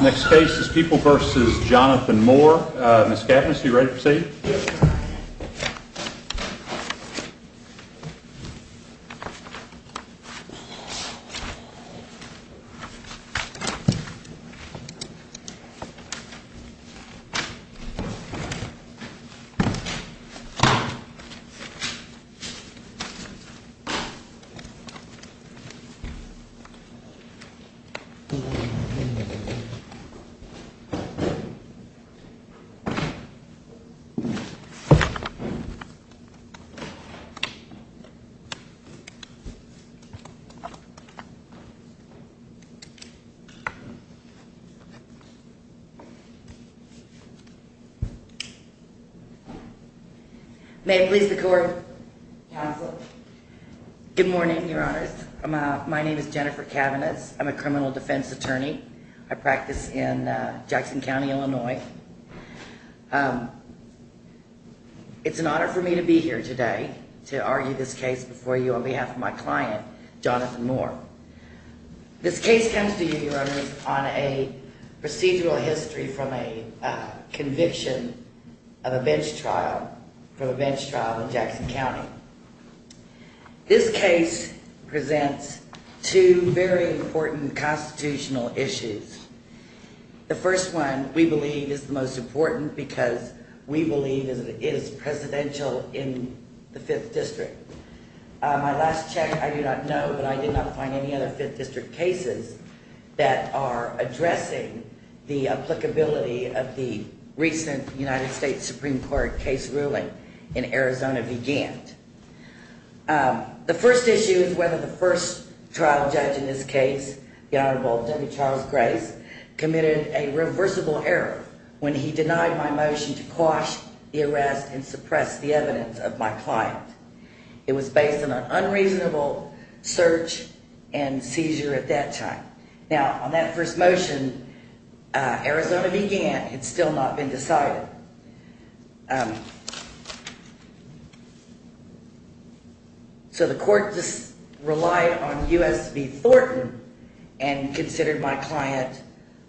Next case is People v. Jonathan Moore. Ms. Katnas, are you ready to proceed? Ms. Katnas May it please the Court, Counsel. Good morning, Your Honors. My name is Jennifer Katnas. I'm a criminal defense attorney. I practice in Jackson County, Illinois. It's an honor for me to be here today to argue this case before you on behalf of my client, Jonathan Moore. This case comes to you, Your Honors, on a procedural history from a conviction of a bench trial, from a bench trial in Jackson County. This case is a procedural history from a bench trial in Jackson County. This case presents two very important constitutional issues. The first one, we believe, is the most important because we believe it is presidential in the 5th District. My last check, I do not know, but I did not find any other 5th District cases that are addressing the applicability of the recent United States Supreme Court case ruling in Arizona v. Gantt. The first issue is whether the first trial judge in this case, the Honorable W. Charles Grace, committed a reversible error when he denied my motion to quash the arrest and suppress the evidence of my client. It was based on an unreasonable search and seizure at that time. Now, on that first motion, Arizona v. Gantt had still not been decided. So the court relied on U.S. v. Thornton and considered my client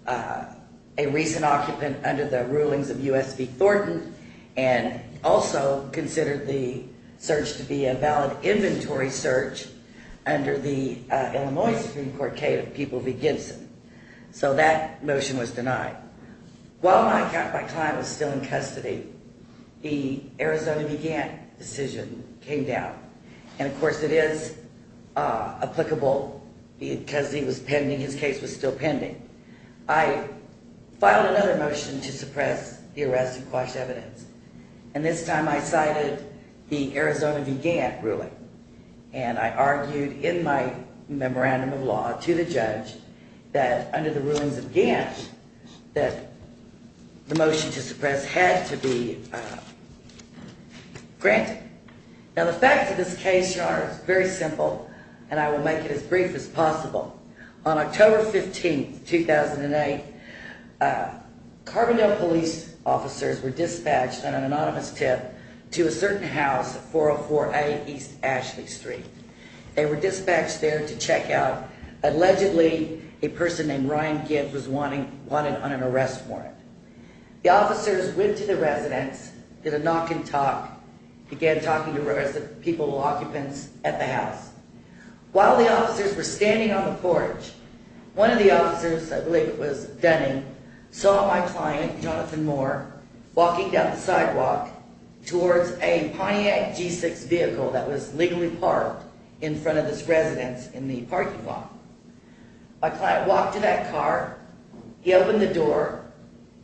a recent occupant under the rulings of U.S. v. Thornton and also considered the search to be a valid inventory search under the Illinois Supreme Court case of people v. Gibson. So that motion was denied. While my client was still in custody, the Arizona v. Gantt decision came down. And, of course, it is applicable because he was pending, his case was still pending. I filed another motion to suppress the arrest and quash evidence. And this time I cited the Arizona v. Gantt ruling. And I argued in my memorandum of law to the judge that under the rulings of Gantt, that my client was still in custody. And I argued that the motion to suppress had to be granted. Now, the facts of this case are very simple. And I will make it as brief as possible. On October 15, 2008, Carbondale police officers were dispatched on an anonymous tip to a certain house at 404A East Ashley Street. They were dispatched there to check out, allegedly, a person named Ryan Gibbs was wanted on an arrest warrant. The officers went to the residence, did a knock and talk, began talking to people, occupants at the house. While the officers were standing on the porch, one of the officers, I believe it was Dunning, saw my client, Jonathan Moore, walking down the sidewalk towards a Pontiac G6 vehicle that was legally parked in front of this residence in the parking lot. My client walked to that car. He opened the door.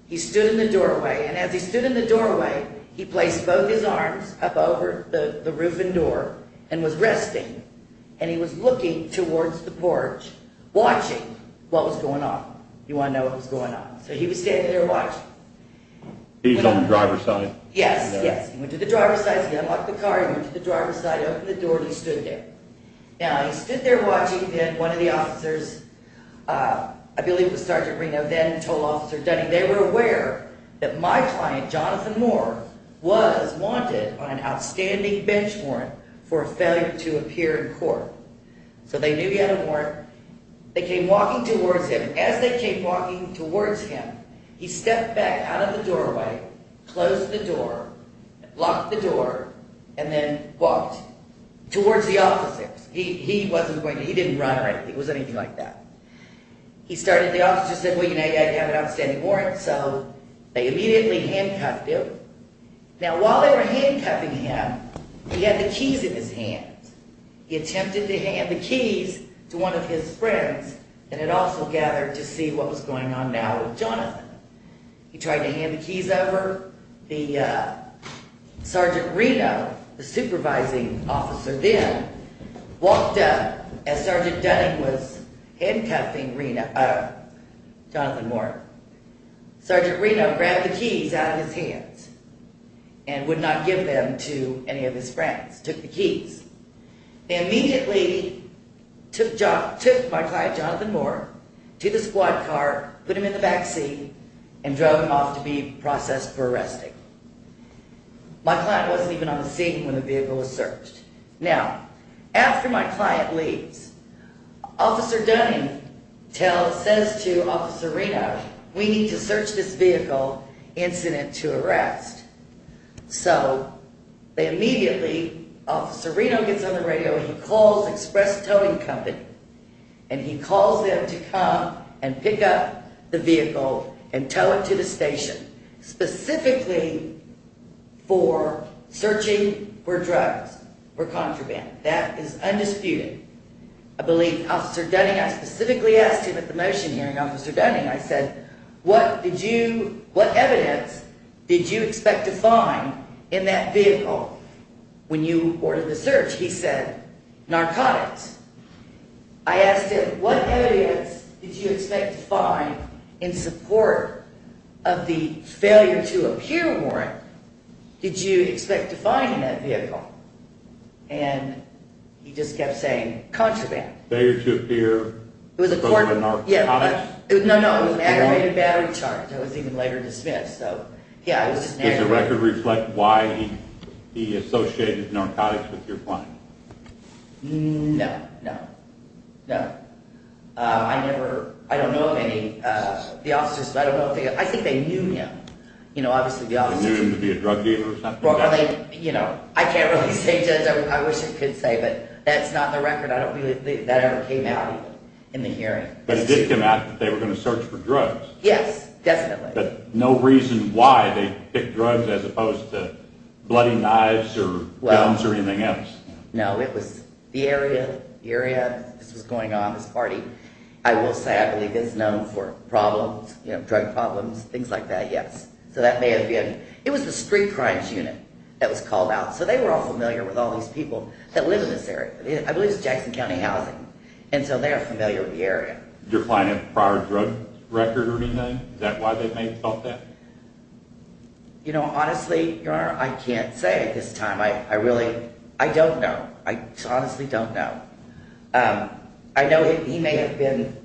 He stood in the doorway. And as he stood in the doorway, he placed both his arms up over the roof and door and was resting. And he was looking towards the porch, watching what was going on. You want to know what was going on? So he was standing there watching. He was on the driver's side? Yes, yes. He went to the driver's side. He unlocked the car. He went to the driver's side, opened the door, and he stood there. Now, he stood there watching. Then one of the officers, I believe it was Sergeant Reno, then told Officer Dunning, they were aware that my client, Jonathan Moore, was wanted on an outstanding bench warrant for failure to appear in court. So they knew he had a warrant. They came walking towards him. As they came walking towards him, he stepped back out of the doorway, closed the door, locked the door, and then walked towards the officer. He didn't run or anything. It wasn't anything like that. The officer said, well, you know, you haven't got an outstanding warrant. So they immediately handcuffed him. Now, while they were handcuffing him, he had the keys in his hands. He attempted to hand the keys to one of his friends and had also gathered to see what was going on now with Jonathan. He tried to hand the keys over. The Sergeant Reno, the supervising officer then, had the keys in his hands. He walked up as Sergeant Dunning was handcuffing Jonathan Moore. Sergeant Reno grabbed the keys out of his hands and would not give them to any of his friends, took the keys. He immediately took my client, Jonathan Moore, to the squad car, put him in the back seat, and drove him off to be processed for arresting. My client wasn't even on the scene when the vehicle was searched. Now, after my client leaves, Officer Dunning says to Officer Reno, we need to search this vehicle, incident to arrest. So they immediately, Officer Reno gets on the radio and he calls Express Towing Company. And he calls them to come and pick up the vehicle and tow it to the station, specifically for searching for drugs. The vehicle was found to have been used for contraband. That is undisputed. I believe Officer Dunning, I specifically asked him at the motion hearing, Officer Dunning, I said, what evidence did you expect to find in that vehicle when you ordered the search? He said, narcotics. I asked him, what evidence did you expect to find in support of the failure to appear warrant did you expect to find in that vehicle? And he just kept saying, contraband. Failure to appear was associated with narcotics? No, no, it was an aggravated battery charge. It was even later dismissed. Does the record reflect why he associated narcotics with your client? No, no, no. I never, I don't know of any, the officers, I don't know, I think they knew him. They knew him to be a drug dealer or something? I wish I could say, but that's not the record. I don't believe that ever came out in the hearing. But it did come out that they were going to search for drugs? Yes, definitely. But no reason why they picked drugs as opposed to bloody knives or guns or anything else? No, it was the area, the area this was going on, this party, I will say I believe is known for problems, drug problems, things like that, yes. So that may have been, it was the street crimes unit that was called out. So they were all familiar with all these people that live in this area. I believe it's Jackson County Housing. And so they are familiar with the area. Your client had a prior drug record or anything? Is that why they may have felt that? You know, honestly, Your Honor, I can't say at this time. I really, I don't know. I honestly don't know. I know he may have been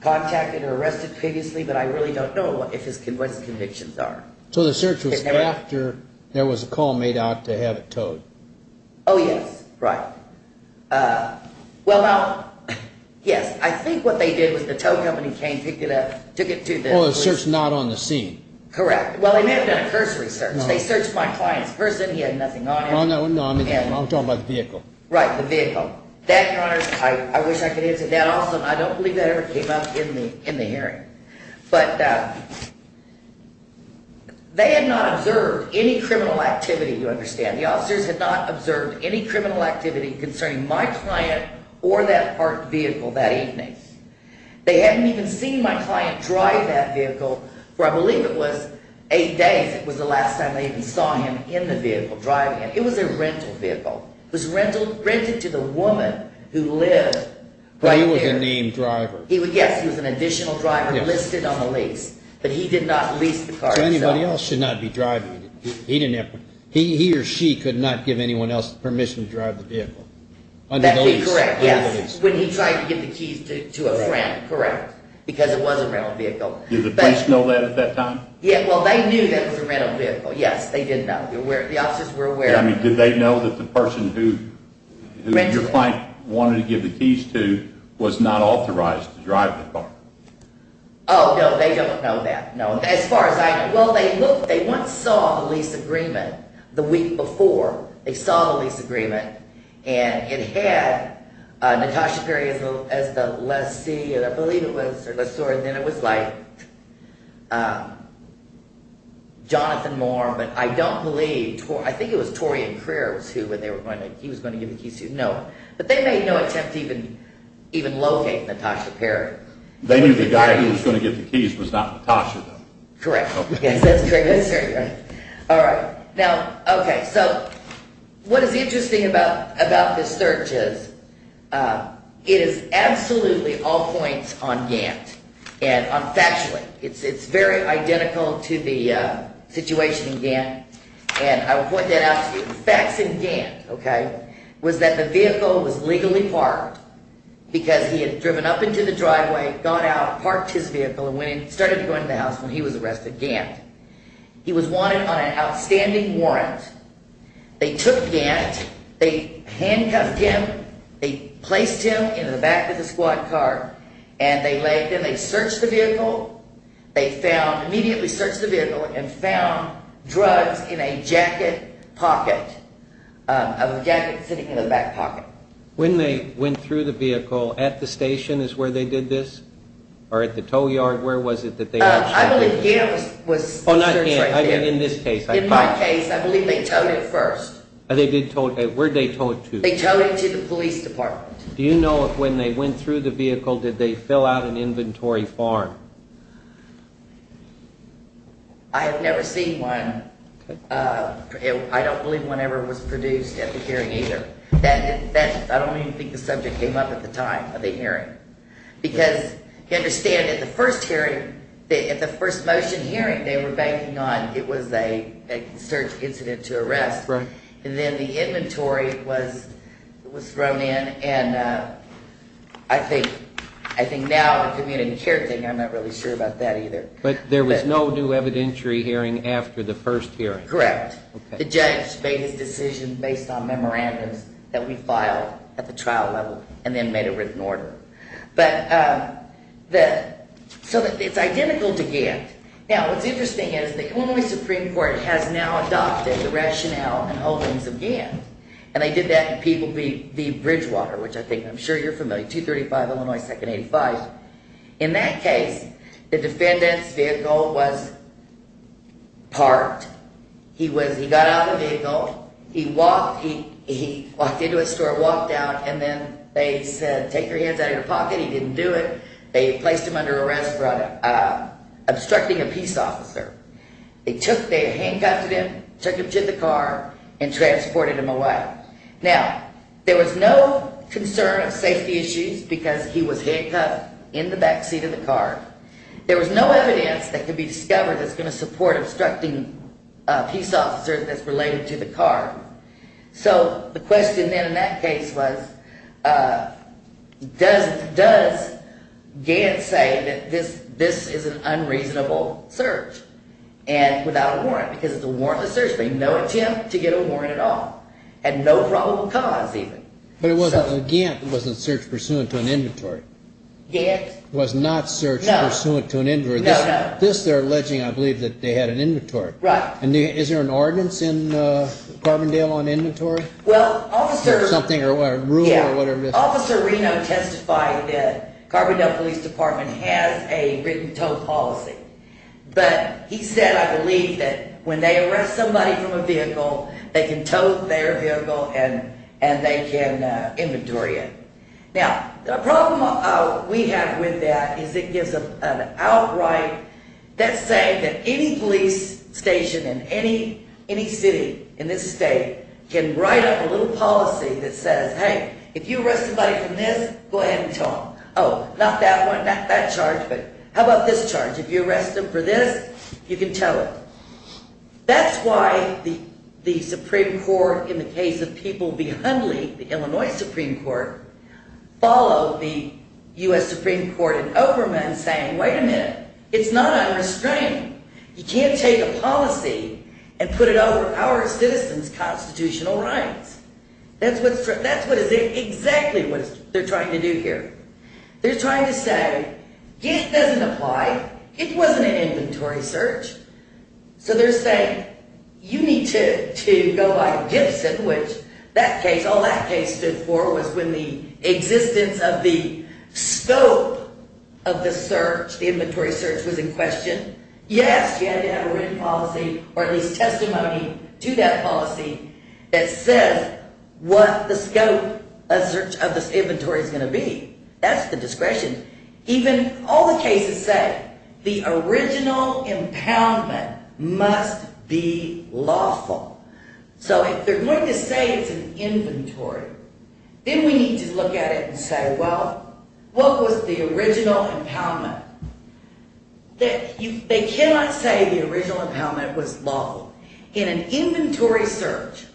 contacted or arrested previously, but I really don't know what his convictions are. So the search was after there was a call made out to have it towed? Oh, yes. Right. Well, yes, I think what they did was the tow company came, picked it up, took it to the police. Oh, the search not on the scene? Correct. Well, they may have done a cursory search. They searched my client's person. He had nothing on him. No, I'm talking about the vehicle. Right, the vehicle. That, Your Honor, I wish I could answer that. Also, I don't believe that ever came up in the hearing. But they had not observed any criminal activity, you understand. The officers had not observed any criminal activity concerning my client or that parked vehicle that evening. They hadn't even seen my client drive that vehicle for, I believe it was, eight days. It was the last time they even saw him in the vehicle driving it. It was a rental vehicle. It was rented to the woman who lived right there. But he was a named driver. Yes, he was an additional driver listed on the lease. But he did not lease the car himself. So anybody else should not be driving it. He or she could not give anyone else permission to drive the vehicle. That would be correct, yes. When he tried to give the keys to a friend, correct. Because it was a rental vehicle. Did the police know that at that time? Well, they knew that it was a rental vehicle. Yes, they did know. The officers were aware. Did they know that the person who your client wanted to give the keys to was not authorized to drive the car? Oh, no. They don't know that. No. Well, they once saw the lease agreement the week before. They saw the lease agreement. And it had Natasha Perry as the lessee. I believe it was. And then it was like Jonathan Moore, but I don't believe, I think it was Torian Kriers who they were going to, he was going to give the keys to. No. But they made no attempt to even locate Natasha Perry. They knew the guy who was going to give the keys was not Natasha though. Correct. Yes, that's correct. All right. Now, okay, so what is interesting about this search is it is absolutely all points on Gantt. And factually, it's very identical to the situation in Gantt. And I will point that out to you. The facts in Gantt, okay, was that the vehicle was legally parked because he had driven up into the driveway, got out, parked his vehicle, and started to go into the house when he was arrested, Gantt. He was wanted on an outstanding warrant. They took Gantt. They handcuffed him. They placed him in the back of the squad car. And then they searched the vehicle. They found, immediately searched the vehicle and found drugs in a jacket pocket. A jacket sitting in the back pocket. When they went through the vehicle, at the station is where they did this? Or at the tow yard? Where was it that they actually did this? I believe Gantt was searched right there. Oh, not Gantt. I mean in this case. In my case, I believe they towed it first. Where did they tow it to? They towed it to the police department. Do you know if when they went through the vehicle, did they fill out an inventory form? I have never seen one. I don't believe one ever was produced at the hearing either. I don't even think the subject came up at the time of the hearing. Because, you understand, at the first hearing, at the first motion hearing, they were banking on it was a search incident to arrest. And then the inventory was thrown in and I think now the community care thing, I'm not really sure about that either. But there was no new evidentiary hearing after the first hearing. Correct. The judge made his decision based on memorandums that we filed at the trial level and then made a written order. So it's identical to Gantt. Now what's interesting is the Illinois Supreme Court has now adopted the rationale and holdings of Gantt. And they did that in Peabody v. Bridgewater, which I think I'm sure you're familiar, 235 Illinois 2nd 85. In that case, the defendant's vehicle was parked. He got out of the vehicle, he walked into a store, walked out, and then they said, take your hands out of your pocket. He didn't do it. They placed him under arrest for obstructing a peace officer. They handcuffed him, took him to the car, and transported him away. Now, there was no concern of safety issues because he was handcuffed in the back seat of the car. There was no evidence that could be discovered that's going to support obstructing a peace officer that's related to the car. So the question then in that case was, does Gantt say that this is an unreasonable search without a warrant? Because it's a warrantless search, but no attempt to get a warrant at all, and no probable cause even. But Gantt wasn't searched pursuant to an inventory. Gantt was not searched pursuant to an inventory. This they're alleging, I believe, that they had an inventory. Is there an ordinance in Carbondale on inventory? Well, Officer Reno testified that Carbondale Police Department has a written-toe policy. But he said, I believe, that when they arrest somebody from a vehicle, they can tow their vehicle and they can inventory it. Now, the problem we have with that is it gives an outright, that's saying that any police station in any city in this state can write up a little policy that says, hey, if you arrest somebody from this, go ahead and tell them. Oh, not that one, not that charge, but how about this charge? If you arrest them for this, you can tell it. That's why the Supreme Court, in the case of People v. Hundley, the Illinois Supreme Court, followed the U.S. Supreme Court in Overman saying, wait a minute, it's not unrestrained. You can't take a policy and put it over our citizens' constitutional rights. That's exactly what they're trying to do here. They're trying to say, it doesn't apply. It wasn't an inventory search. So they're saying, you need to go by Gibson, which that case, all that case stood for was when the existence of the scope of the search, the inventory search was in question. Yes, you had to have a written policy or at least testimony to that policy that says what the scope of the inventory is going to be. That's the discretion. Even all the cases say the original impoundment must be lawful. So if they're going to say it's an inventory, then we need to look at it and say, well, what was the original impoundment? They cannot say the original impoundment was lawful. In an inventory search,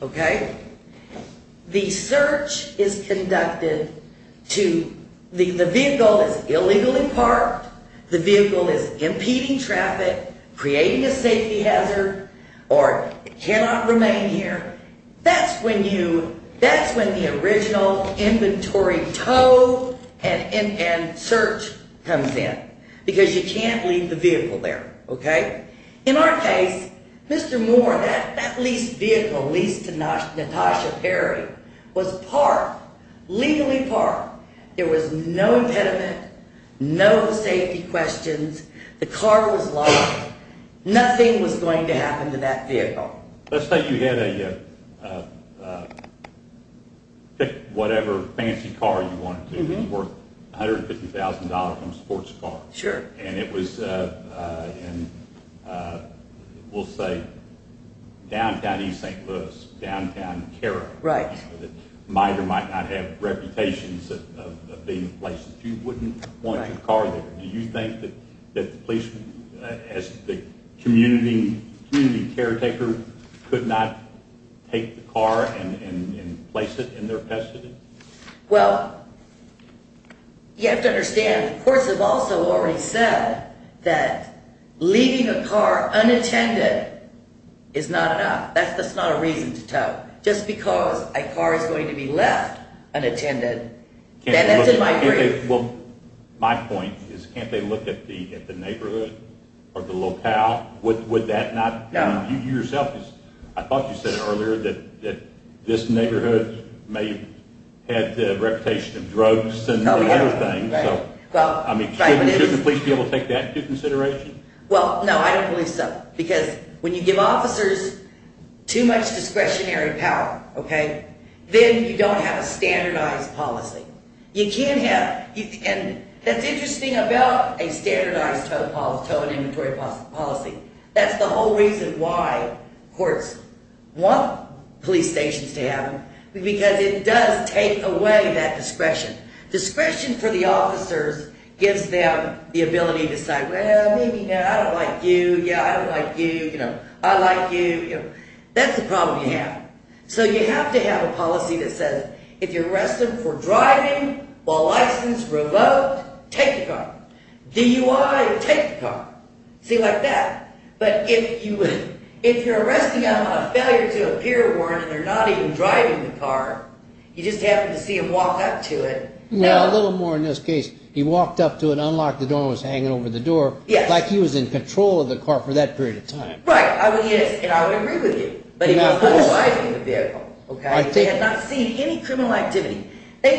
the search is conducted to the vehicle that's illegally parked. The vehicle is impeding traffic, creating a safety hazard or cannot remain here. That's when the original inventory tow and search comes in because you can't leave the vehicle there. In our case, Mr. Moore, that leased vehicle, leased to Natasha Perry, was legally parked. There was no impediment, no safety questions, the car was locked. Nothing was going to happen to that vehicle. Let's say you had a whatever fancy car you wanted to. It was worth $150,000 from a sports car. And it was in, we'll say, downtown East St. Louis, downtown Carroll. The minor might not have reputations of being in places. You wouldn't want your car there. Do you think that the police, as the community caretaker, could not take the car and place it in their custody? Well, you have to understand, the courts have also already said that leaving a car unattended is not enough. That's not a reason to tow. Just because a car is going to be left unattended, that's in my brief. Well, my point is, can't they look at the neighborhood or the locale? Would that not? You yourself, I thought you said earlier that this neighborhood may have had a reputation of drugs and other things. Shouldn't the police be able to take that into consideration? Well, no, I don't believe so. Because when you give officers too much discretionary power, then you don't have a standardized policy. You can have, and that's interesting about a standardized tow and inventory policy. That's the whole reason why courts want police stations to happen, because it does take away that discretion. Discretion for the officers gives them the ability to say, well, maybe I don't like you, I don't like you, I like you. That's a problem you have. So you have to have a policy that says, if you're arrested for driving while license revoked, take the car. DUI or take the car. See, like that. But if you're arresting a failure to appear warrant and they're not even driving the car, you just happen to see them walk up to it. Well, a little more in this case. He walked up to it, unlocked the door and was hanging over the door. Like he was in control of the car for that period of time. Right, and I would agree with you. But he was not driving the vehicle. He had not seen any criminal activity. I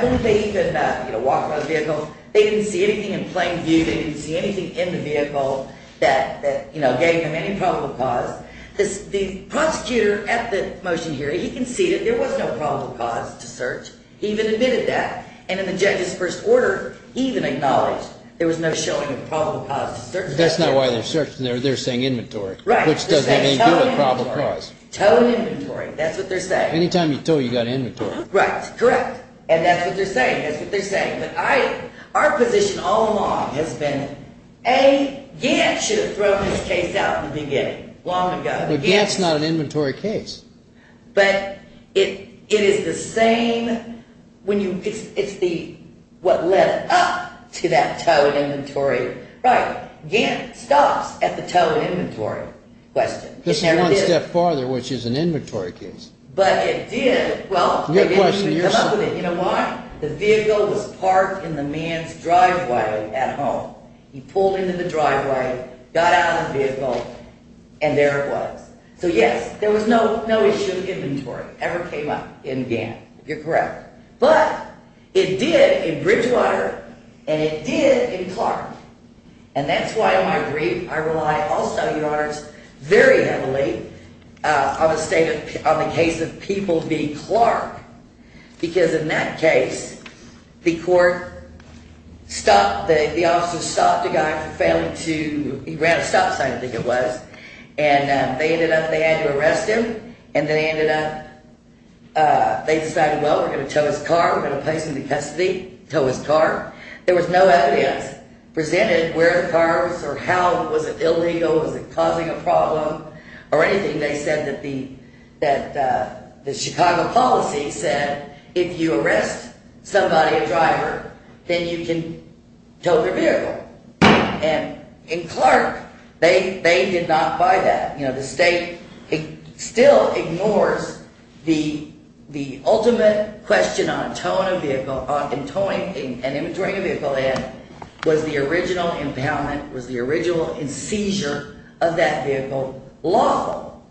believe that he could not walk by the vehicle. They didn't see anything in plain view. They didn't see anything in the vehicle that gave him any probable cause. The prosecutor at the motion hearing, he conceded there was no probable cause to search. He even admitted that. And in the judge's first order, he even acknowledged there was no showing of probable cause to search. That's not why they're searching. They're saying inventory, which doesn't have anything to do with probable cause. Tow and inventory, that's what they're saying. Any time you tow, you've got inventory. Right, correct. And that's what they're saying. Our position all along has been, A, Gant should have thrown this case out in the beginning, long ago. But Gant's not an inventory case. But it is the same, it's what led up to that tow and inventory. Right, Gant stops at the tow and inventory question. This is one step farther, which is an inventory case. But it did, well, they didn't come up with it. You know why? The vehicle was parked in the man's driveway at home. He pulled into the driveway, got out of the vehicle, and there it was. So yes, there was no issue of inventory ever came up in Gant. You're correct. But it did in Bridgewater, and it did in Clark. And that's why, in my brief, I rely also, Your Honors, very heavily on the case of People v. Clark. Because in that case, the court stopped, the officer stopped a guy from failing to, he ran a stop sign, I think it was. And they ended up, they had to arrest him. And they ended up, they decided, well, we're going to tow his car, we're going to place him in custody, tow his car. There was no evidence presented where the car was, or how, was it illegal, was it causing a problem, or anything. They said that the Chicago policy said, if you arrest somebody, a driver, then you can tow their vehicle. And in Clark, they did not buy that. You know, the state still ignores the ultimate question on towing a vehicle, on towing and inventorying a vehicle, was the original impoundment, was the original seizure of that vehicle lawful?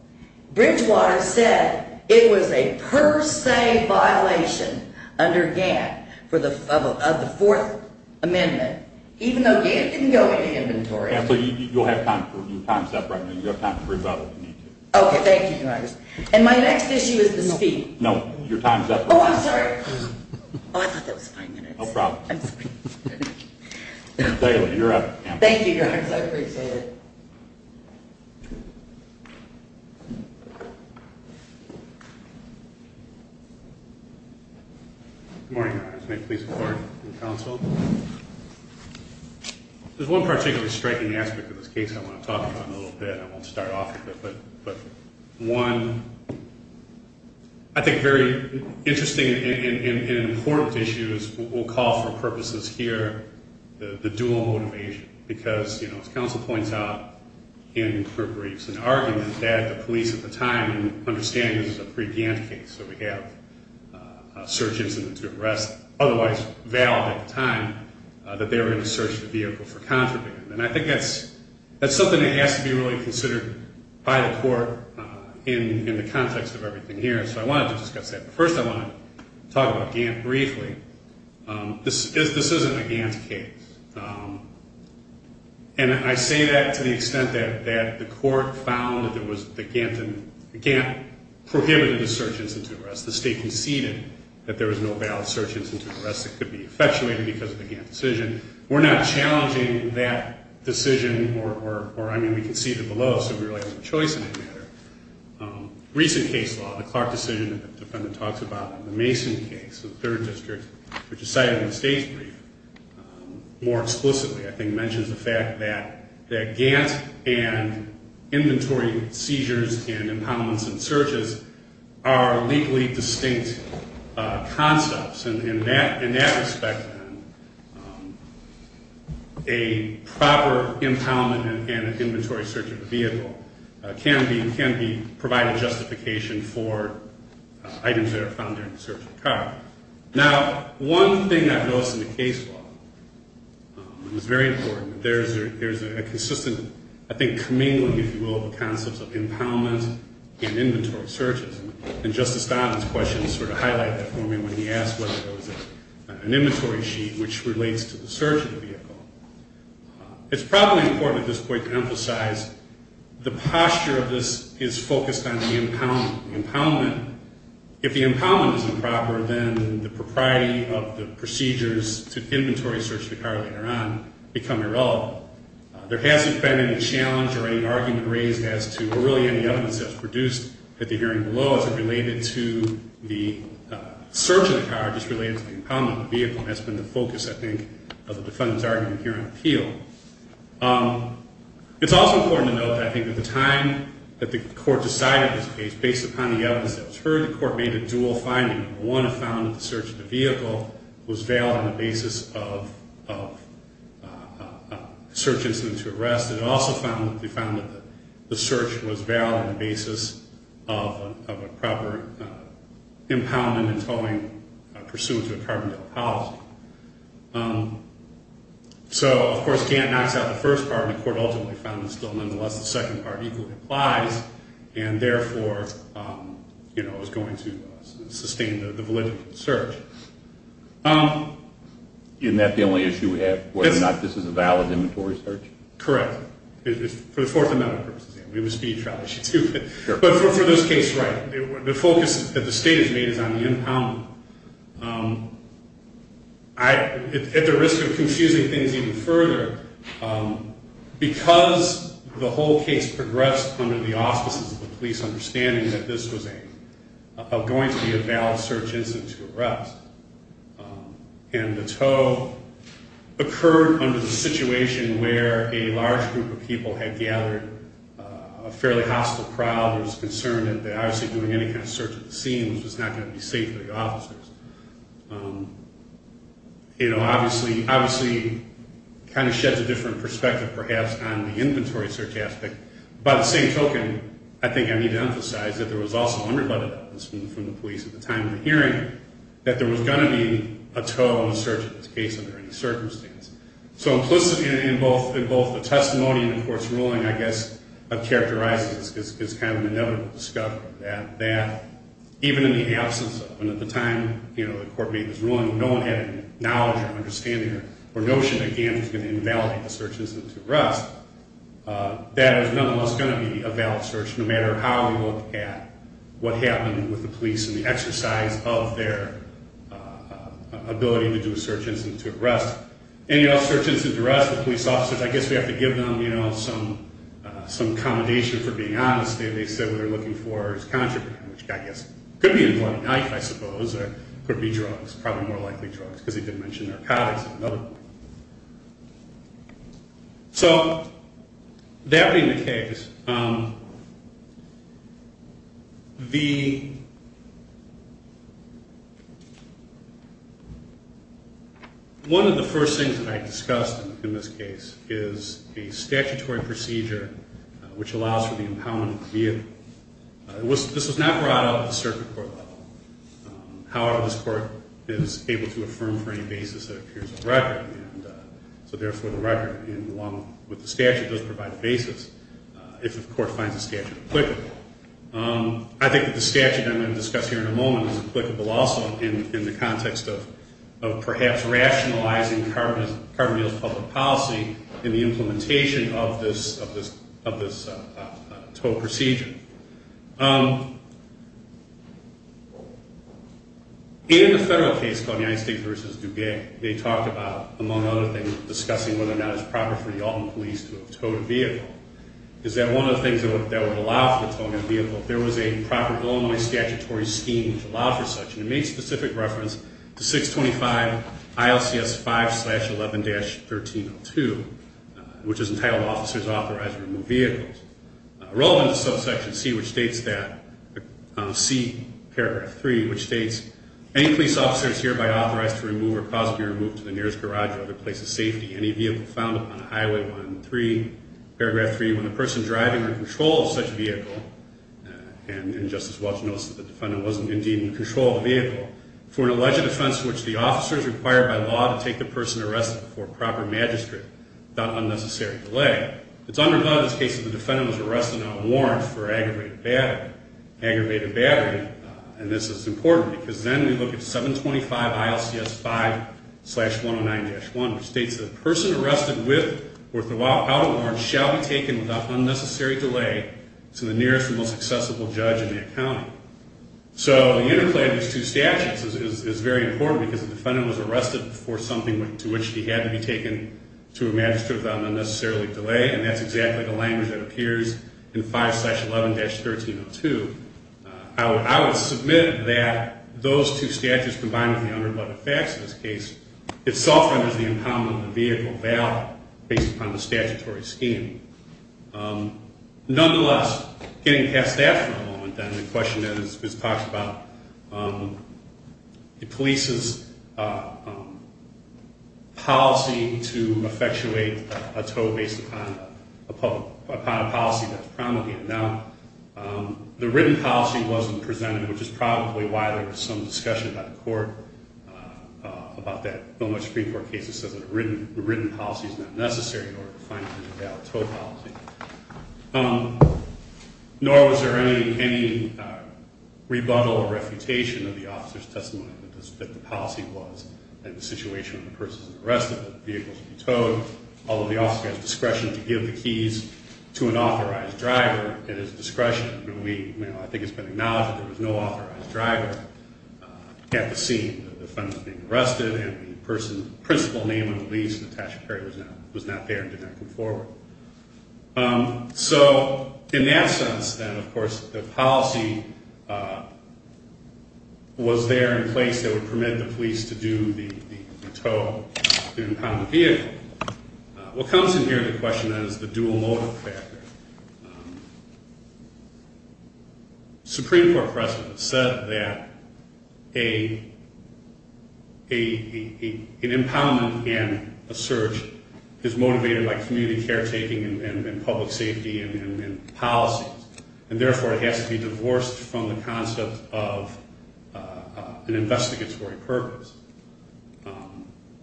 Bridgewater said it was a per se violation under Gant of the Fourth Amendment, even though Gant didn't go into inventory. So you'll have time for, your time's up right now, you have time to rebuttal if you need to. Okay, thank you, Your Honor. And my next issue is the speed. No, your time's up. Oh, I'm sorry. Oh, I thought that was five minutes. No problem. Ms. Daly, you're up. Thank you, Your Honor, I appreciate it. Good morning, Your Honor. May I please have the floor to the counsel? There's one particularly striking aspect of this case I want to talk about in a little bit. I won't start off with it, but one, I think, very interesting and important issue is what we'll call for purposes here, the dual motivation, because, you know, as counsel points out in her briefs, an argument that the police at the time, and understand this is a pre-Gant case, so we have a search incident to arrest, otherwise valid at the time that they were going to search the vehicle for contraband. And I think that's something that has to be really considered by the court in the context of everything here. So I wanted to discuss that, but first I want to talk about Gant briefly. This isn't a Gant case. And I say that to the extent that the court found that the Gant prohibited the search incident to arrest. The state conceded that there was no valid search incident to arrest that could be effectuated because of the Gant decision. We're not challenging that decision, or, I mean, we conceded below, so we really have no choice in that matter. Recent case law, the Clark decision, the defendant talks about in the Mason case, the third district, which is cited in the state's brief, more explicitly, I think, mentions the fact that Gant and inventory seizures and impoundments and searches are legally distinct concepts. In that respect, then, a proper impoundment and an inventory search of the vehicle can be provided justification for items that are found during the search of the car. Now, one thing I've noticed in the case law, and it's very important, there's a consistent, I think, commingling, if you will, of the concepts of impoundments and inventory searches. And Justice Donovan's question sort of highlighted that for me when he asked whether there was an inventory sheet which relates to the search of the vehicle. It's probably important at this point to emphasize the posture of this is focused on the impoundment. If the impoundment is improper, then the propriety of the procedures to inventory search the car later on become irrelevant. There hasn't been any challenge or any argument raised as to, or really any evidence that's produced at the hearing below as it related to the search of the car, just related to the impoundment of the vehicle, and that's been the focus, I think, of the defendant's argument here on appeal. It's also important to note, I think, that the time that the court decided this case, based upon the evidence that was heard, the court made a dual finding. One, it found that the search of the vehicle was valid on the basis of a search incident to arrest. It also found that the search was valid on the basis of a proper impoundment and towing pursuant to a carbondel policy. So, of course, Gantt knocks out the first part, and the court ultimately found that still, nonetheless, the second part equally applies and, therefore, is going to sustain the validity of the search. Isn't that the only issue we have, whether or not this is a valid inventory search? Correct. For the fourth amendment purposes, yes. It would be a trial issue, too. But for this case, right. The focus that the state has made is on the impoundment. At the risk of confusing things even further, because the whole case progressed under the auspices of the police understanding that this was going to be a valid search incident to arrest, and the tow occurred under the situation where a large group of people had gathered a fairly hostile crowd, and was concerned that obviously doing any kind of search at the scene was not going to be safe for the officers. It obviously kind of sheds a different perspective, perhaps, on the inventory search aspect. By the same token, I think I need to emphasize that there was also unrebutted evidence from the police at the time of the hearing that there was going to be a tow in the search of this case under any circumstance. So implicitly in both the testimony and the court's ruling, I guess, I've characterized this as kind of an inevitable discovery that even in the absence of, and at the time the court made this ruling, no one had any knowledge or understanding or notion that GANF was going to invalidate the search incident to arrest, that it was nonetheless going to be a valid search no matter how we look at what happened with the police and the exercise of their ability to do a search incident to arrest. The police officers, I guess we have to give them some accommodation for being honest. They said what they're looking for is contraband, which I guess could be a blunt knife, I suppose, or it could be drugs, probably more likely drugs, because he didn't mention narcotics at another point. So that being the case, the, one of the first things that I discussed in this case is a statutory procedure which allows for the impoundment of the vehicle. This was not brought up at the circuit court level. However, this court is able to affirm for any basis that appears in the record, and so therefore the record, along with the statute, does provide a basis if the court finds the statute applicable. I think that the statute I'm going to discuss here in a moment is applicable also in the context of perhaps rationalizing carbon deals public policy in the implementation of this TOE procedure. In the federal case called United States v. Duguay, they talked about, among other things, discussing whether or not it's proper for the Alton police to have towed a vehicle, is that one of the things that would allow for towing a vehicle, there was a proper only statutory scheme which allowed for such, and it made specific reference to 625 ILCS 5-11-1302, which is entitled Officers Authorized to Remove Vehicles. Relevant to Subsection C, which states that, C, Paragraph 3, which states, Any police officer is hereby authorized to remove or cause to be removed to the nearest garage or other place of safety any vehicle found upon Highway 13, Paragraph 3, when the person driving or in control of such vehicle, and Justice Welch notes that the defendant wasn't indeed in control of the vehicle, for an alleged offense in which the officer is required by law to take the person arrested before proper magistrate without unnecessary delay. It's undergone in this case that the defendant was arrested without a warrant for aggravated battery, and this is important because then we look at 725 ILCS 5-109-1, which states that the person arrested with or without a warrant shall be taken without unnecessary delay to the nearest and most accessible judge in that county. So the interplay of these two statutes is very important because the defendant was arrested before something to which he had to be taken to a magistrate without unnecessary delay, and that's exactly the language that appears in 5-11-1302. I would submit that those two statutes combined with the undercut of facts in this case itself renders the incumbent on the vehicle valid based upon the statutory scheme. Nonetheless, getting past that for a moment, then, the question is, this talks about the police's policy to effectuate a tow based upon a policy that's promulgated. Now, the written policy wasn't presented, which is probably why there was some discussion by the court about that. The Supreme Court case says that a written policy is not necessary in order to find a way out of a tow policy. Nor was there any rebuttal or refutation of the officer's testimony that the policy was in the situation when the person was arrested that the vehicle should be towed, although the officer has discretion to give the keys to an authorized driver at his discretion. I think it's been acknowledged that there was no authorized driver at the scene. The defendant was being arrested, and the person's principal name, at least, Natasha Perry, was not there and did not come forward. So, in that sense, then, of course, the policy was there in place that would permit the police to do the tow, to impound the vehicle. What comes in here, the question is the dual motive factor. The Supreme Court precedent said that an impoundment and a search is motivated by community caretaking and public safety and policies. And, therefore, it has to be divorced from the concept of an investigatory purpose.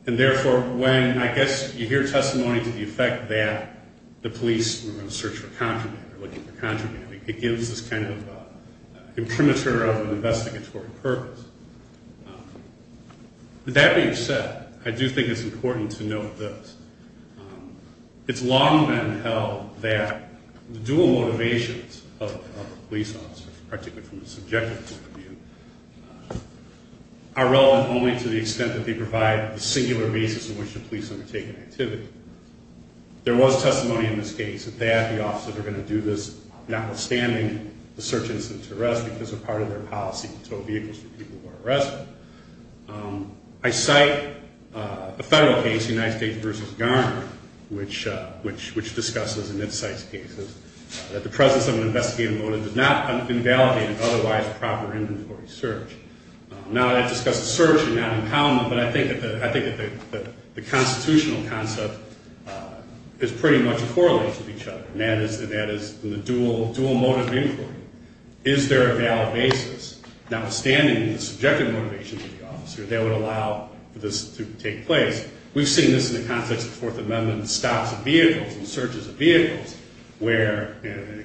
And, therefore, when, I guess, you hear testimony to the effect that the police were going to search for contraband or looking for contraband, it gives this kind of imprimatur of an investigatory purpose. With that being said, I do think it's important to note this. It's long been held that the dual motivations of a police officer, particularly from the subjective point of view, are relevant only to the extent that they provide the singular basis on which the police undertake an activity. There was testimony in this case that the officers are going to do this, notwithstanding the search instance arrest, because a part of their policy is to tow vehicles for people who are arrested. I cite a federal case, United States v. Garner, which discusses, and it cites cases, that the presence of an investigative motive does not invalidate an otherwise proper inventory search. Now, that discusses search and not impoundment, but I think that the constitutional concept is pretty much correlates with each other, and that is in the dual motive inquiry. Is there a valid basis, notwithstanding the subjective motivations of the officer, that would allow for this to take place? We've seen this in the context of Fourth Amendment stops of vehicles and searches of vehicles, where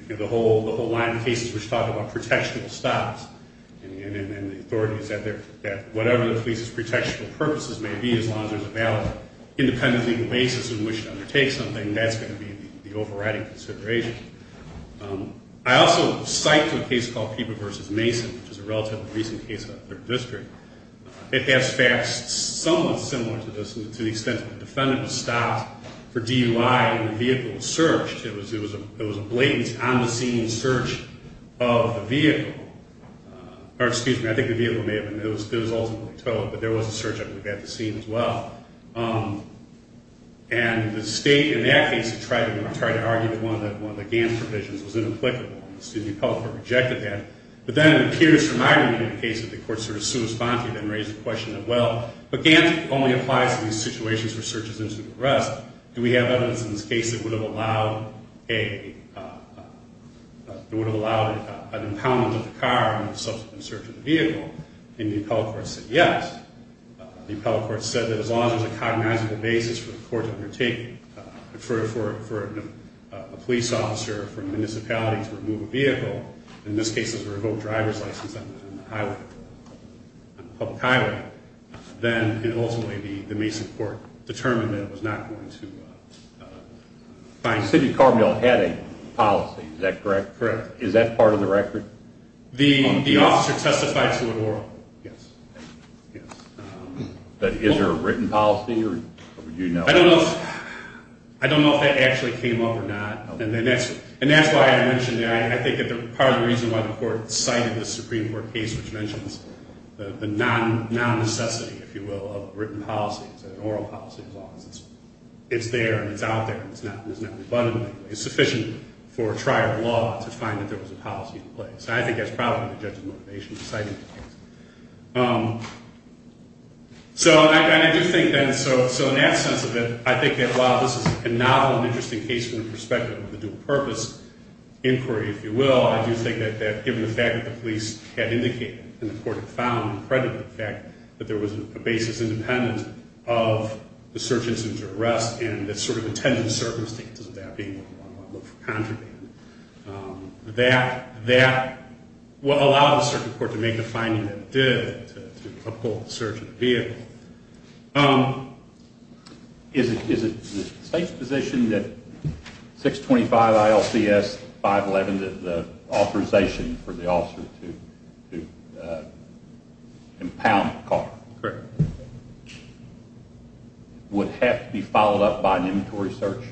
the whole line of cases which talk about protection of stops, and the authorities, that whatever the police's protection purposes may be, as long as there's a valid independent legal basis on which to undertake something, that's going to be the overriding consideration. I also cite a case called Peeba v. Mason, which is a relatively recent case out of Third District. It has facts somewhat similar to this, to the extent that the defendant was stopped for DUI and the vehicle was searched. It was a blatant, on-the-scene search of the vehicle. Or, excuse me, I think the vehicle may have been, it was ultimately towed, but there was a search at the scene as well. And the state, in that case, tried to argue with one of the Gantt provisions. It was inapplicable, and the city of Pelham rejected that. But then it appears from my reading of the case that the court sort of soon responded and raised the question of, well, but Gantt only applies to these situations where search is an incident of arrest. Do we have evidence in this case that would have allowed an impoundment of the car in the subsequent search of the vehicle? And the appellate court said yes. The appellate court said that as long as there's a cognizable basis for the court to undertake, for a police officer from a municipality to remove a vehicle, in this case it was a revoked driver's license on the highway, on a public highway, then it would ultimately be the Mason court determined that it was not going to find that the city of Carbondale had a policy. Is that correct? Correct. Is that part of the record? The officer testified to it orally. Yes. But is there a written policy? I don't know if that actually came up or not. And that's why I mentioned that. I think that part of the reason why the court cited the Supreme Court case, which mentions the non-necessity, if you will, of written policy, is that an oral policy as long as it's there and it's out there and it's not rebutted, it's sufficient for a trier of law to find that there was a policy in place. And I think that's probably the judge's motivation for citing the case. So I do think then, so in that sense of it, I think that while this is a novel and interesting case from the perspective of the dual purpose inquiry, if you will, I do think that given the fact that the police had indicated and the court had found and credited the fact that there was a basis independent of the search instance or arrest and that sort of intended circumstances of that being one level of contraband, that allowed the circuit court to make the finding that it did to uphold the search of the vehicle. Is it the state's position that 625 ILCS 511, the authorization for the officer to impound the car, would have to be followed up by an inventory search?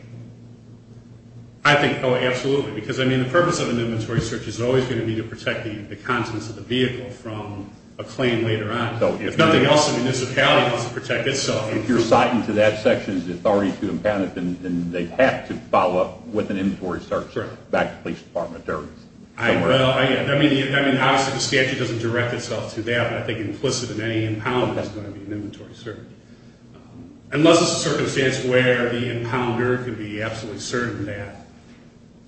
I think, oh, absolutely. Because the purpose of an inventory search is always going to be to protect the contents of the vehicle from a claim later on. If nothing else, the municipality has to protect itself. If you're citing to that section the authority to impound it, then they have to follow up with an inventory search back to the police department. Well, I mean, obviously the statute doesn't direct itself to that, but I think implicit in any impound is going to be an inventory search. Unless it's a circumstance where the impounder can be absolutely certain that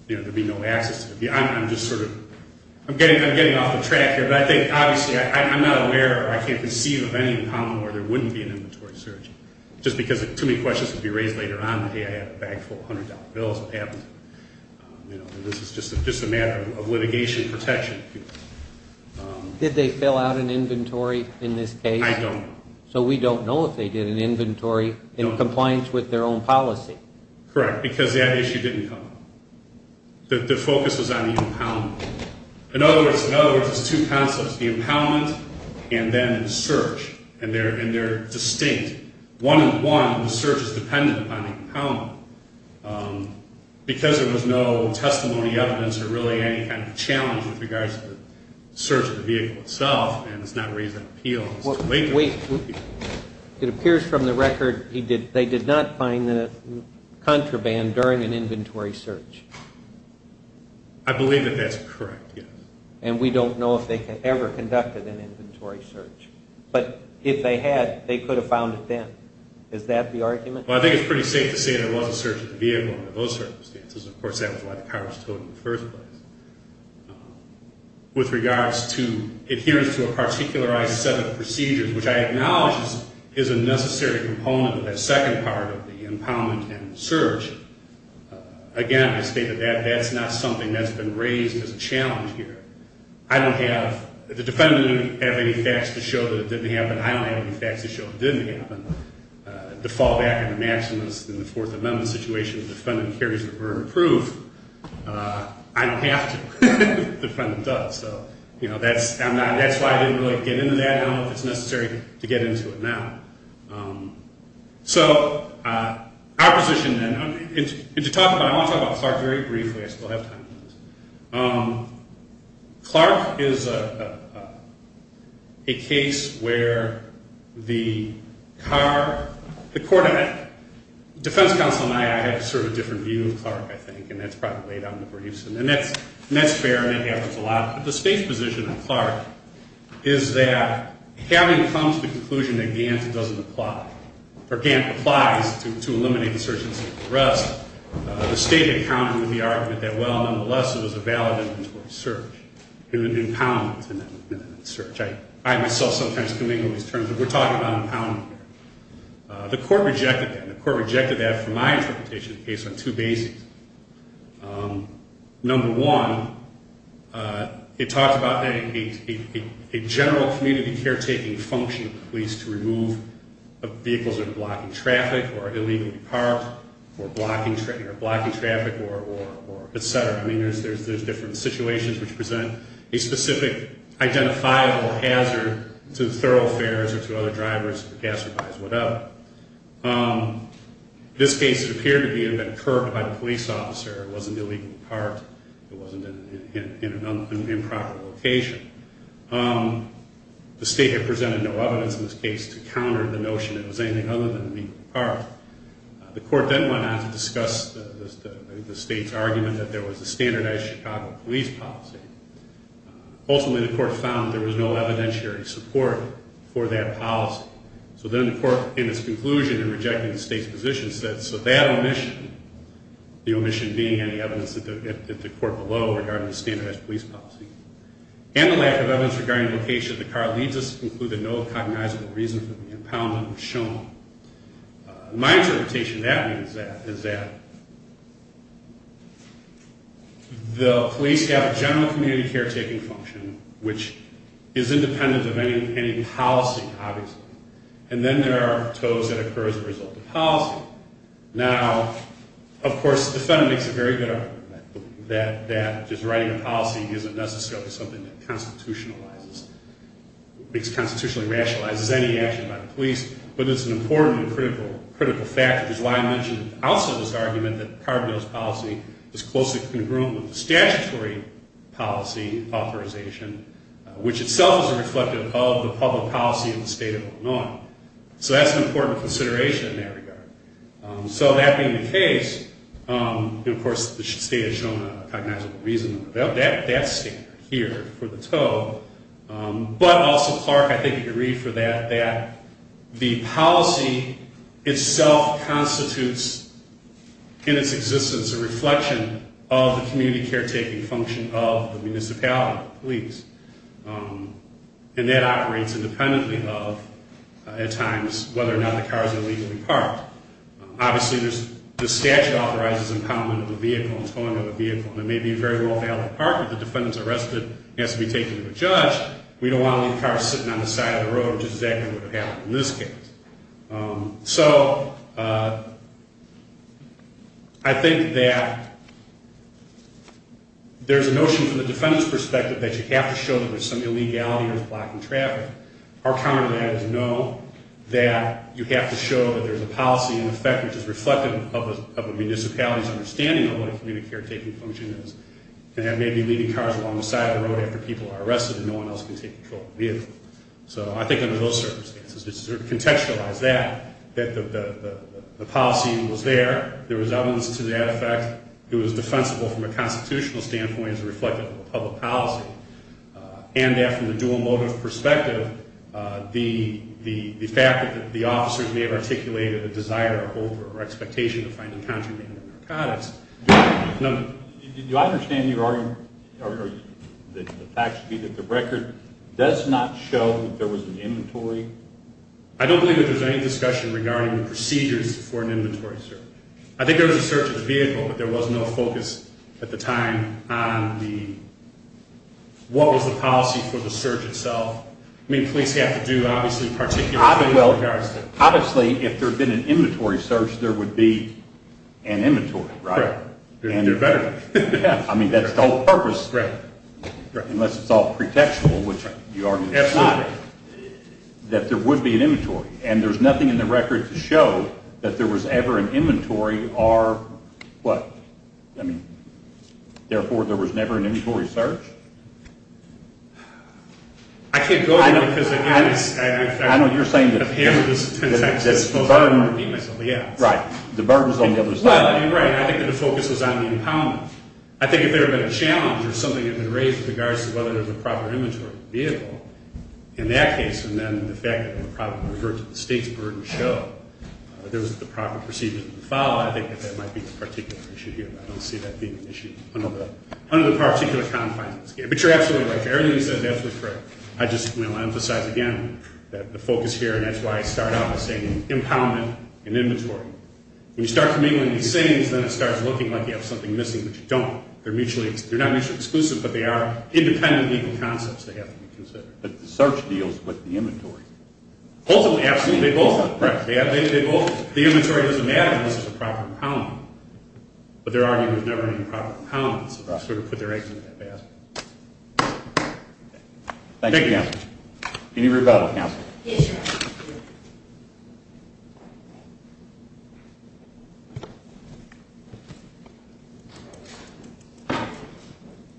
there'd be no access to the vehicle. I'm just sort of, I'm getting off the track here, but I think, obviously, I'm not aware or I can't conceive of any impound where there wouldn't be an inventory search. Just because too many questions would be raised later on, hey, I have a bag full of $100 bills, what happens? This is just a matter of litigation protection. Did they fill out an inventory in this case? I don't know. So we don't know if they did an inventory in compliance with their own policy. Correct, because that issue didn't come up. The focus was on the impound. In other words, there's two concepts, the impoundment and then the search. And they're distinct. One, the search is dependent on the impoundment. Because there was no testimony, evidence, or really any kind of challenge with regards to the search of the vehicle itself, and it's not raising appeals to wait. Wait, it appears from the record they did not find the contraband during an inventory search. I believe that that's correct, yes. And we don't know if they ever conducted an inventory search. But if they had, they could have found it then. Is that the argument? Well, I think it's pretty safe to say there was a search of the vehicle under those circumstances. Of course, that was what the Congress told in the first place. With regards to adherence to a particularized set of procedures, which I acknowledge is a necessary component of that second part of the impoundment and search, again, I state that that's not something that's been raised as a challenge here. I don't have, the defendant didn't have any facts to show that it didn't happen. I don't have any facts to show that it didn't happen. To fall back on the maxims in the Fourth Amendment situation, the defendant carries a word of proof. I don't have to. The defendant does. So, you know, that's why I didn't really get into that. I don't know if it's necessary to get into it now. So, our position then, and to talk about, I want to talk about Clark very briefly. I still have time for this. Clark is a case where the car, the court, the defense counsel and I, I have sort of a different view of Clark, I think, and that's probably laid out in the briefs. And that's fair, and it happens a lot. But the state's position on Clark is that having come to the conclusion that Gant doesn't apply, or Gant applies to eliminate insurgency and arrest, the state accounted with the argument that, well, nonetheless, it was a valid inventory search, an impoundment search. I myself sometimes commingle these terms, but we're talking about impoundment here. The court rejected that. The court rejected that from my interpretation of the case on two bases. Number one, it talks about a general community caretaking function of the police to remove vehicles that are blocking traffic, or illegally parked, or blocking traffic, or etc. I mean, there's different situations which present a specific identifiable hazard to thoroughfares or to other drivers, gas supplies, whatever. This case appeared to be an event occurred by the police officer. It wasn't illegally parked. It wasn't in an improper location. The state had presented no evidence in this case to counter the notion that it was anything other than illegally parked. The court then went on to discuss the state's argument that there was a standardized Chicago police policy. Ultimately, the court found there was no evidentiary support for that policy. So then the court, in its conclusion, in rejecting the state's position, said so that omission, the omission being any evidence at the court below regarding the standardized police policy, and the lack of evidence regarding the location of the car leads us to conclude that no cognizable reason for the impoundment was shown. My interpretation of that is that the police have a general community caretaking function which is independent of any policy, obviously, and then there are toads that occur as a result of policy. Now, of course, the defendant makes a very good argument that just writing a policy isn't necessarily something that constitutionally rationalizes any action by the police, but it's an important and critical factor, which is why I mentioned also this argument that Carbonell's policy is closely congruent with the statutory policy authorization, which itself is reflective of the public policy of the state of Illinois. So that's an important consideration in that regard. So that being the case, of course, the state has shown a cognizable reason for that standard here for the toad, but also Clark, I think, could read for that that the policy itself constitutes in its existence a reflection of the community caretaking function of the municipality police, and that operates independently of, at times, whether or not the cars are legally parked. Obviously, the statute authorizes impoundment of the vehicle and towing of the vehicle, and it may be a very well-valued part, if the defendant's arrested and has to be taken to a judge, we don't want to leave cars sitting on the side of the road, which is exactly what would have happened in this case. So I think that there's a notion from the defendant's perspective that you have to show that there's some illegality with blocking traffic. Our counter to that is no, that you have to show that there's a policy in effect which is reflective of a municipality's understanding of what a community caretaking function is, and that may be leaving cars along the side of the road after people are arrested and no one else can take control of the vehicle. So I think under those circumstances, it's to contextualize that, that the policy was there, there was evidence to that effect, it was defensible from a constitutional standpoint and is reflective of a public policy, and that from the dual motive perspective, the fact that the officers may have articulated a desire or hope or expectation to find a contraband narcotics. Now, do I understand your argument, or the fact should be that the record does not show that there was an inventory? I don't believe that there's any discussion regarding the procedures for an inventory search. I think there was a search of the vehicle, but there was no focus at the time on the, what was the policy for the search itself. I mean, police have to do, obviously, particular things. Well, obviously, if there had been an inventory search, there would be an inventory, right? There better be. I mean, that's the whole purpose, unless it's all pretextual, which you argue is true, that there would be an inventory, and there's nothing in the record to show that there was ever an inventory or what? I mean, therefore, there was never an inventory search? I can't go there, because, again, I've handled this a ton of times, and it's a burden to repeat myself, yes. Right. The burden's on the other side. Well, you're right. I think that the focus was on the impoundment. I think if there had been a challenge or something had been raised with regards to whether there was a proper inventory of the vehicle, in that case, and then the fact that it would probably revert to the state's burden show that there was the proper procedure to follow, I think that that might be the particular issue here. I don't see that being an issue in this case, but you're absolutely right. Everything you said is absolutely correct. I just, you know, I emphasize again that the focus here, and that's why I start out with saying impoundment and inventory. When you start commingling these things, then it starts looking like you have something missing, but you don't. They're not mutually exclusive, but they are independent legal concepts that have to be considered. But the search deals with the inventory. Both of them, absolutely. They both, the inventory doesn't matter unless it's a proper impoundment, unless it's a proper inventory. Thank you. Thank you, Counselor. Any rebuttal, Counselor? Yes, Your Honor.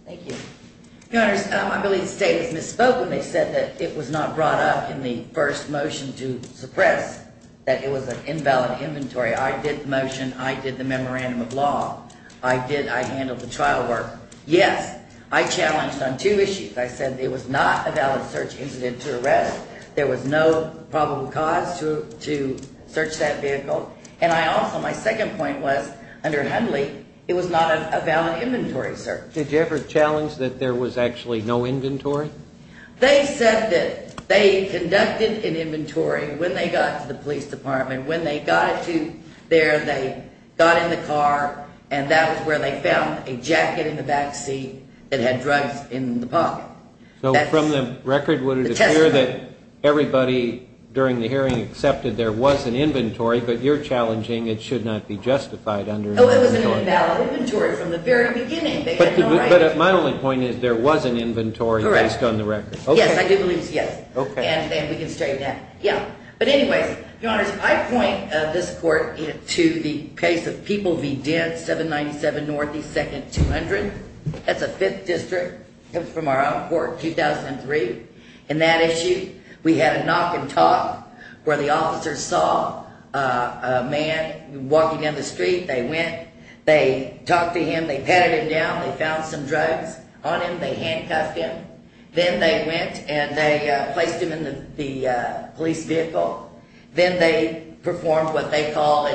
Thank you. Your Honor, I believe the state has misspoken. They said that it was not brought up in the first motion to suppress that it was an invalid inventory. I did the motion. I did the memorandum of law. I did, I handled the trial work. Yes, I challenged on two issues. I said it was not a valid search incident to arrest. There was no probable cause to search that vehicle. And I also, my second point was, under Hundley, it was not a valid inventory search. Did you ever challenge that there was actually no inventory? They said that they conducted an inventory when they got to the police department. When they got it to there, they got in the car, and that was where they found a jacket in the back seat that had drugs in the pocket. So from the record, would it appear that everybody during the hearing accepted there was an inventory, but you're challenging it should not be justified under an inventory? Oh, it was an invalid inventory from the very beginning. But my only point is there was an inventory based on the record. Yes, I do believe it's yes. And we can straighten that. We have a case in the 97 Northeast Second 200. That's a fifth district. It comes from our own court, 2003. In that issue, we had a knock and talk where the officers saw a man walking down the street. They went, they talked to him, they patted him down, they found some drugs on him, they handcuffed him. Then they went and they placed him in the police vehicle. Then they performed what they called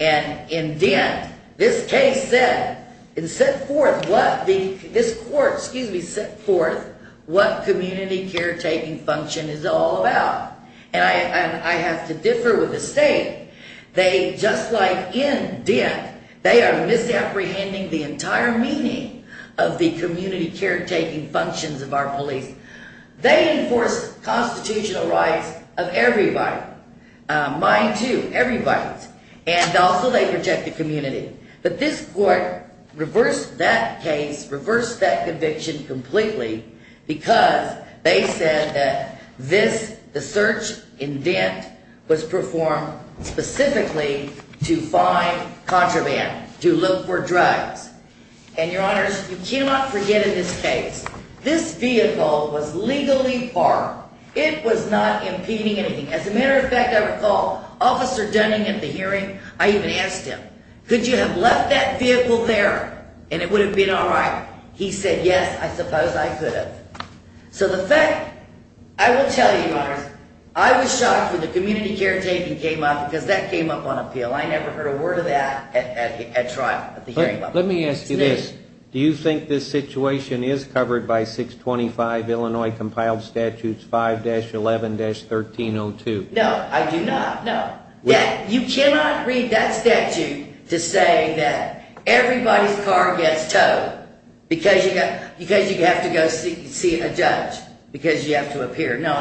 an indent. This case said, it set forth what the, this court, excuse me, set forth what community caretaking function is all about. And I have to differ with the state. They, just like indent, they are misapprehending the entire meaning of the community caretaking functions of our police. They enforce constitutional rights of everybody. Mine too, everybody. And also they protect the community. But this court reversed that case, reversed that conviction completely because they said that this, the search indent was performed specifically to find contraband, to look for drugs. And your honors, you cannot forget in this case, this vehicle was legally parked. It was not impeding anything. As a matter of fact, I recall Officer Dunning at the hearing, I even asked him, could you have left that vehicle there and it would have been all right? He said, yes, I suppose I could have. So the fact, I will tell you, I was shocked when the community caretaking came up because that came up on appeal. I never heard a word of that at trial at the hearing. Let me ask you this. Do you think this situation could have happened to you? No, I do not. You cannot read that statute to say that everybody's car gets towed because you have to go see a judge, because you have to appear. No,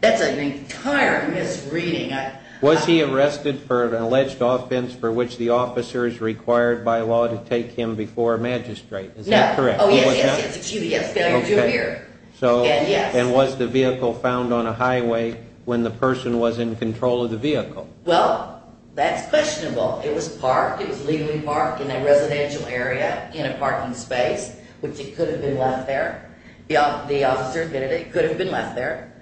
that's an entire misreading. Was he arrested for an alleged offense for which the officer is required by law to take him before a magistrate? No. And was the vehicle found and the person was in control of the vehicle? Well, that's questionable. It was parked, it was legally parked in a residential area in a parking space, which it could have been left there. The officer admitted it could have been left there.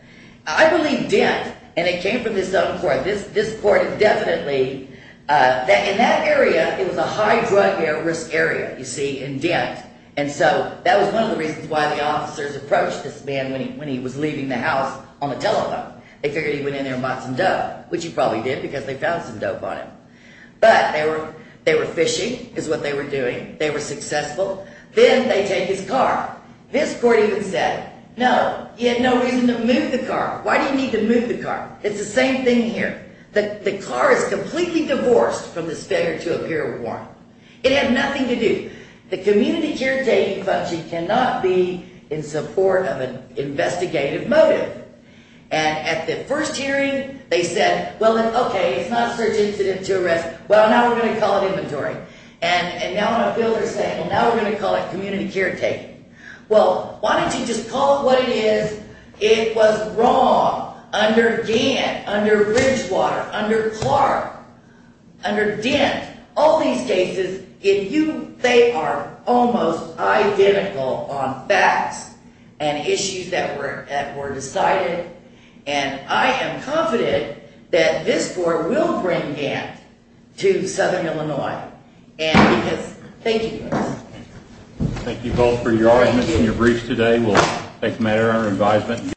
I believe Dent, and it came from this other court, this court is definitely, in that area, it was a high drug risk area, and they found him by some dope, which he probably did because they found some dope on him. But they were fishing, is what they were doing. They were successful. Then they take his car. This court even said, no, he had no reason to move the car. Why do you need to move the car? It's the same thing here. The car is completely divorced from this failure to appear warrant. It had nothing to do. The community caretaking function they said, well, okay, it's not a search incident to arrest. Well, now we're going to call it inventory. And now I feel they're saying, well, now we're going to call it community caretaking. Well, why don't you just call it what it is? It was wrong under Dent, under Bridgewater, under Clark, under Dent. All these cases, they are almost identical on facts and issues that were decided. And I am confident that this court will bring Dent to Southern Illinois. Thank you. Thank you both for your arguments and your briefs today. We'll take matter under advisement.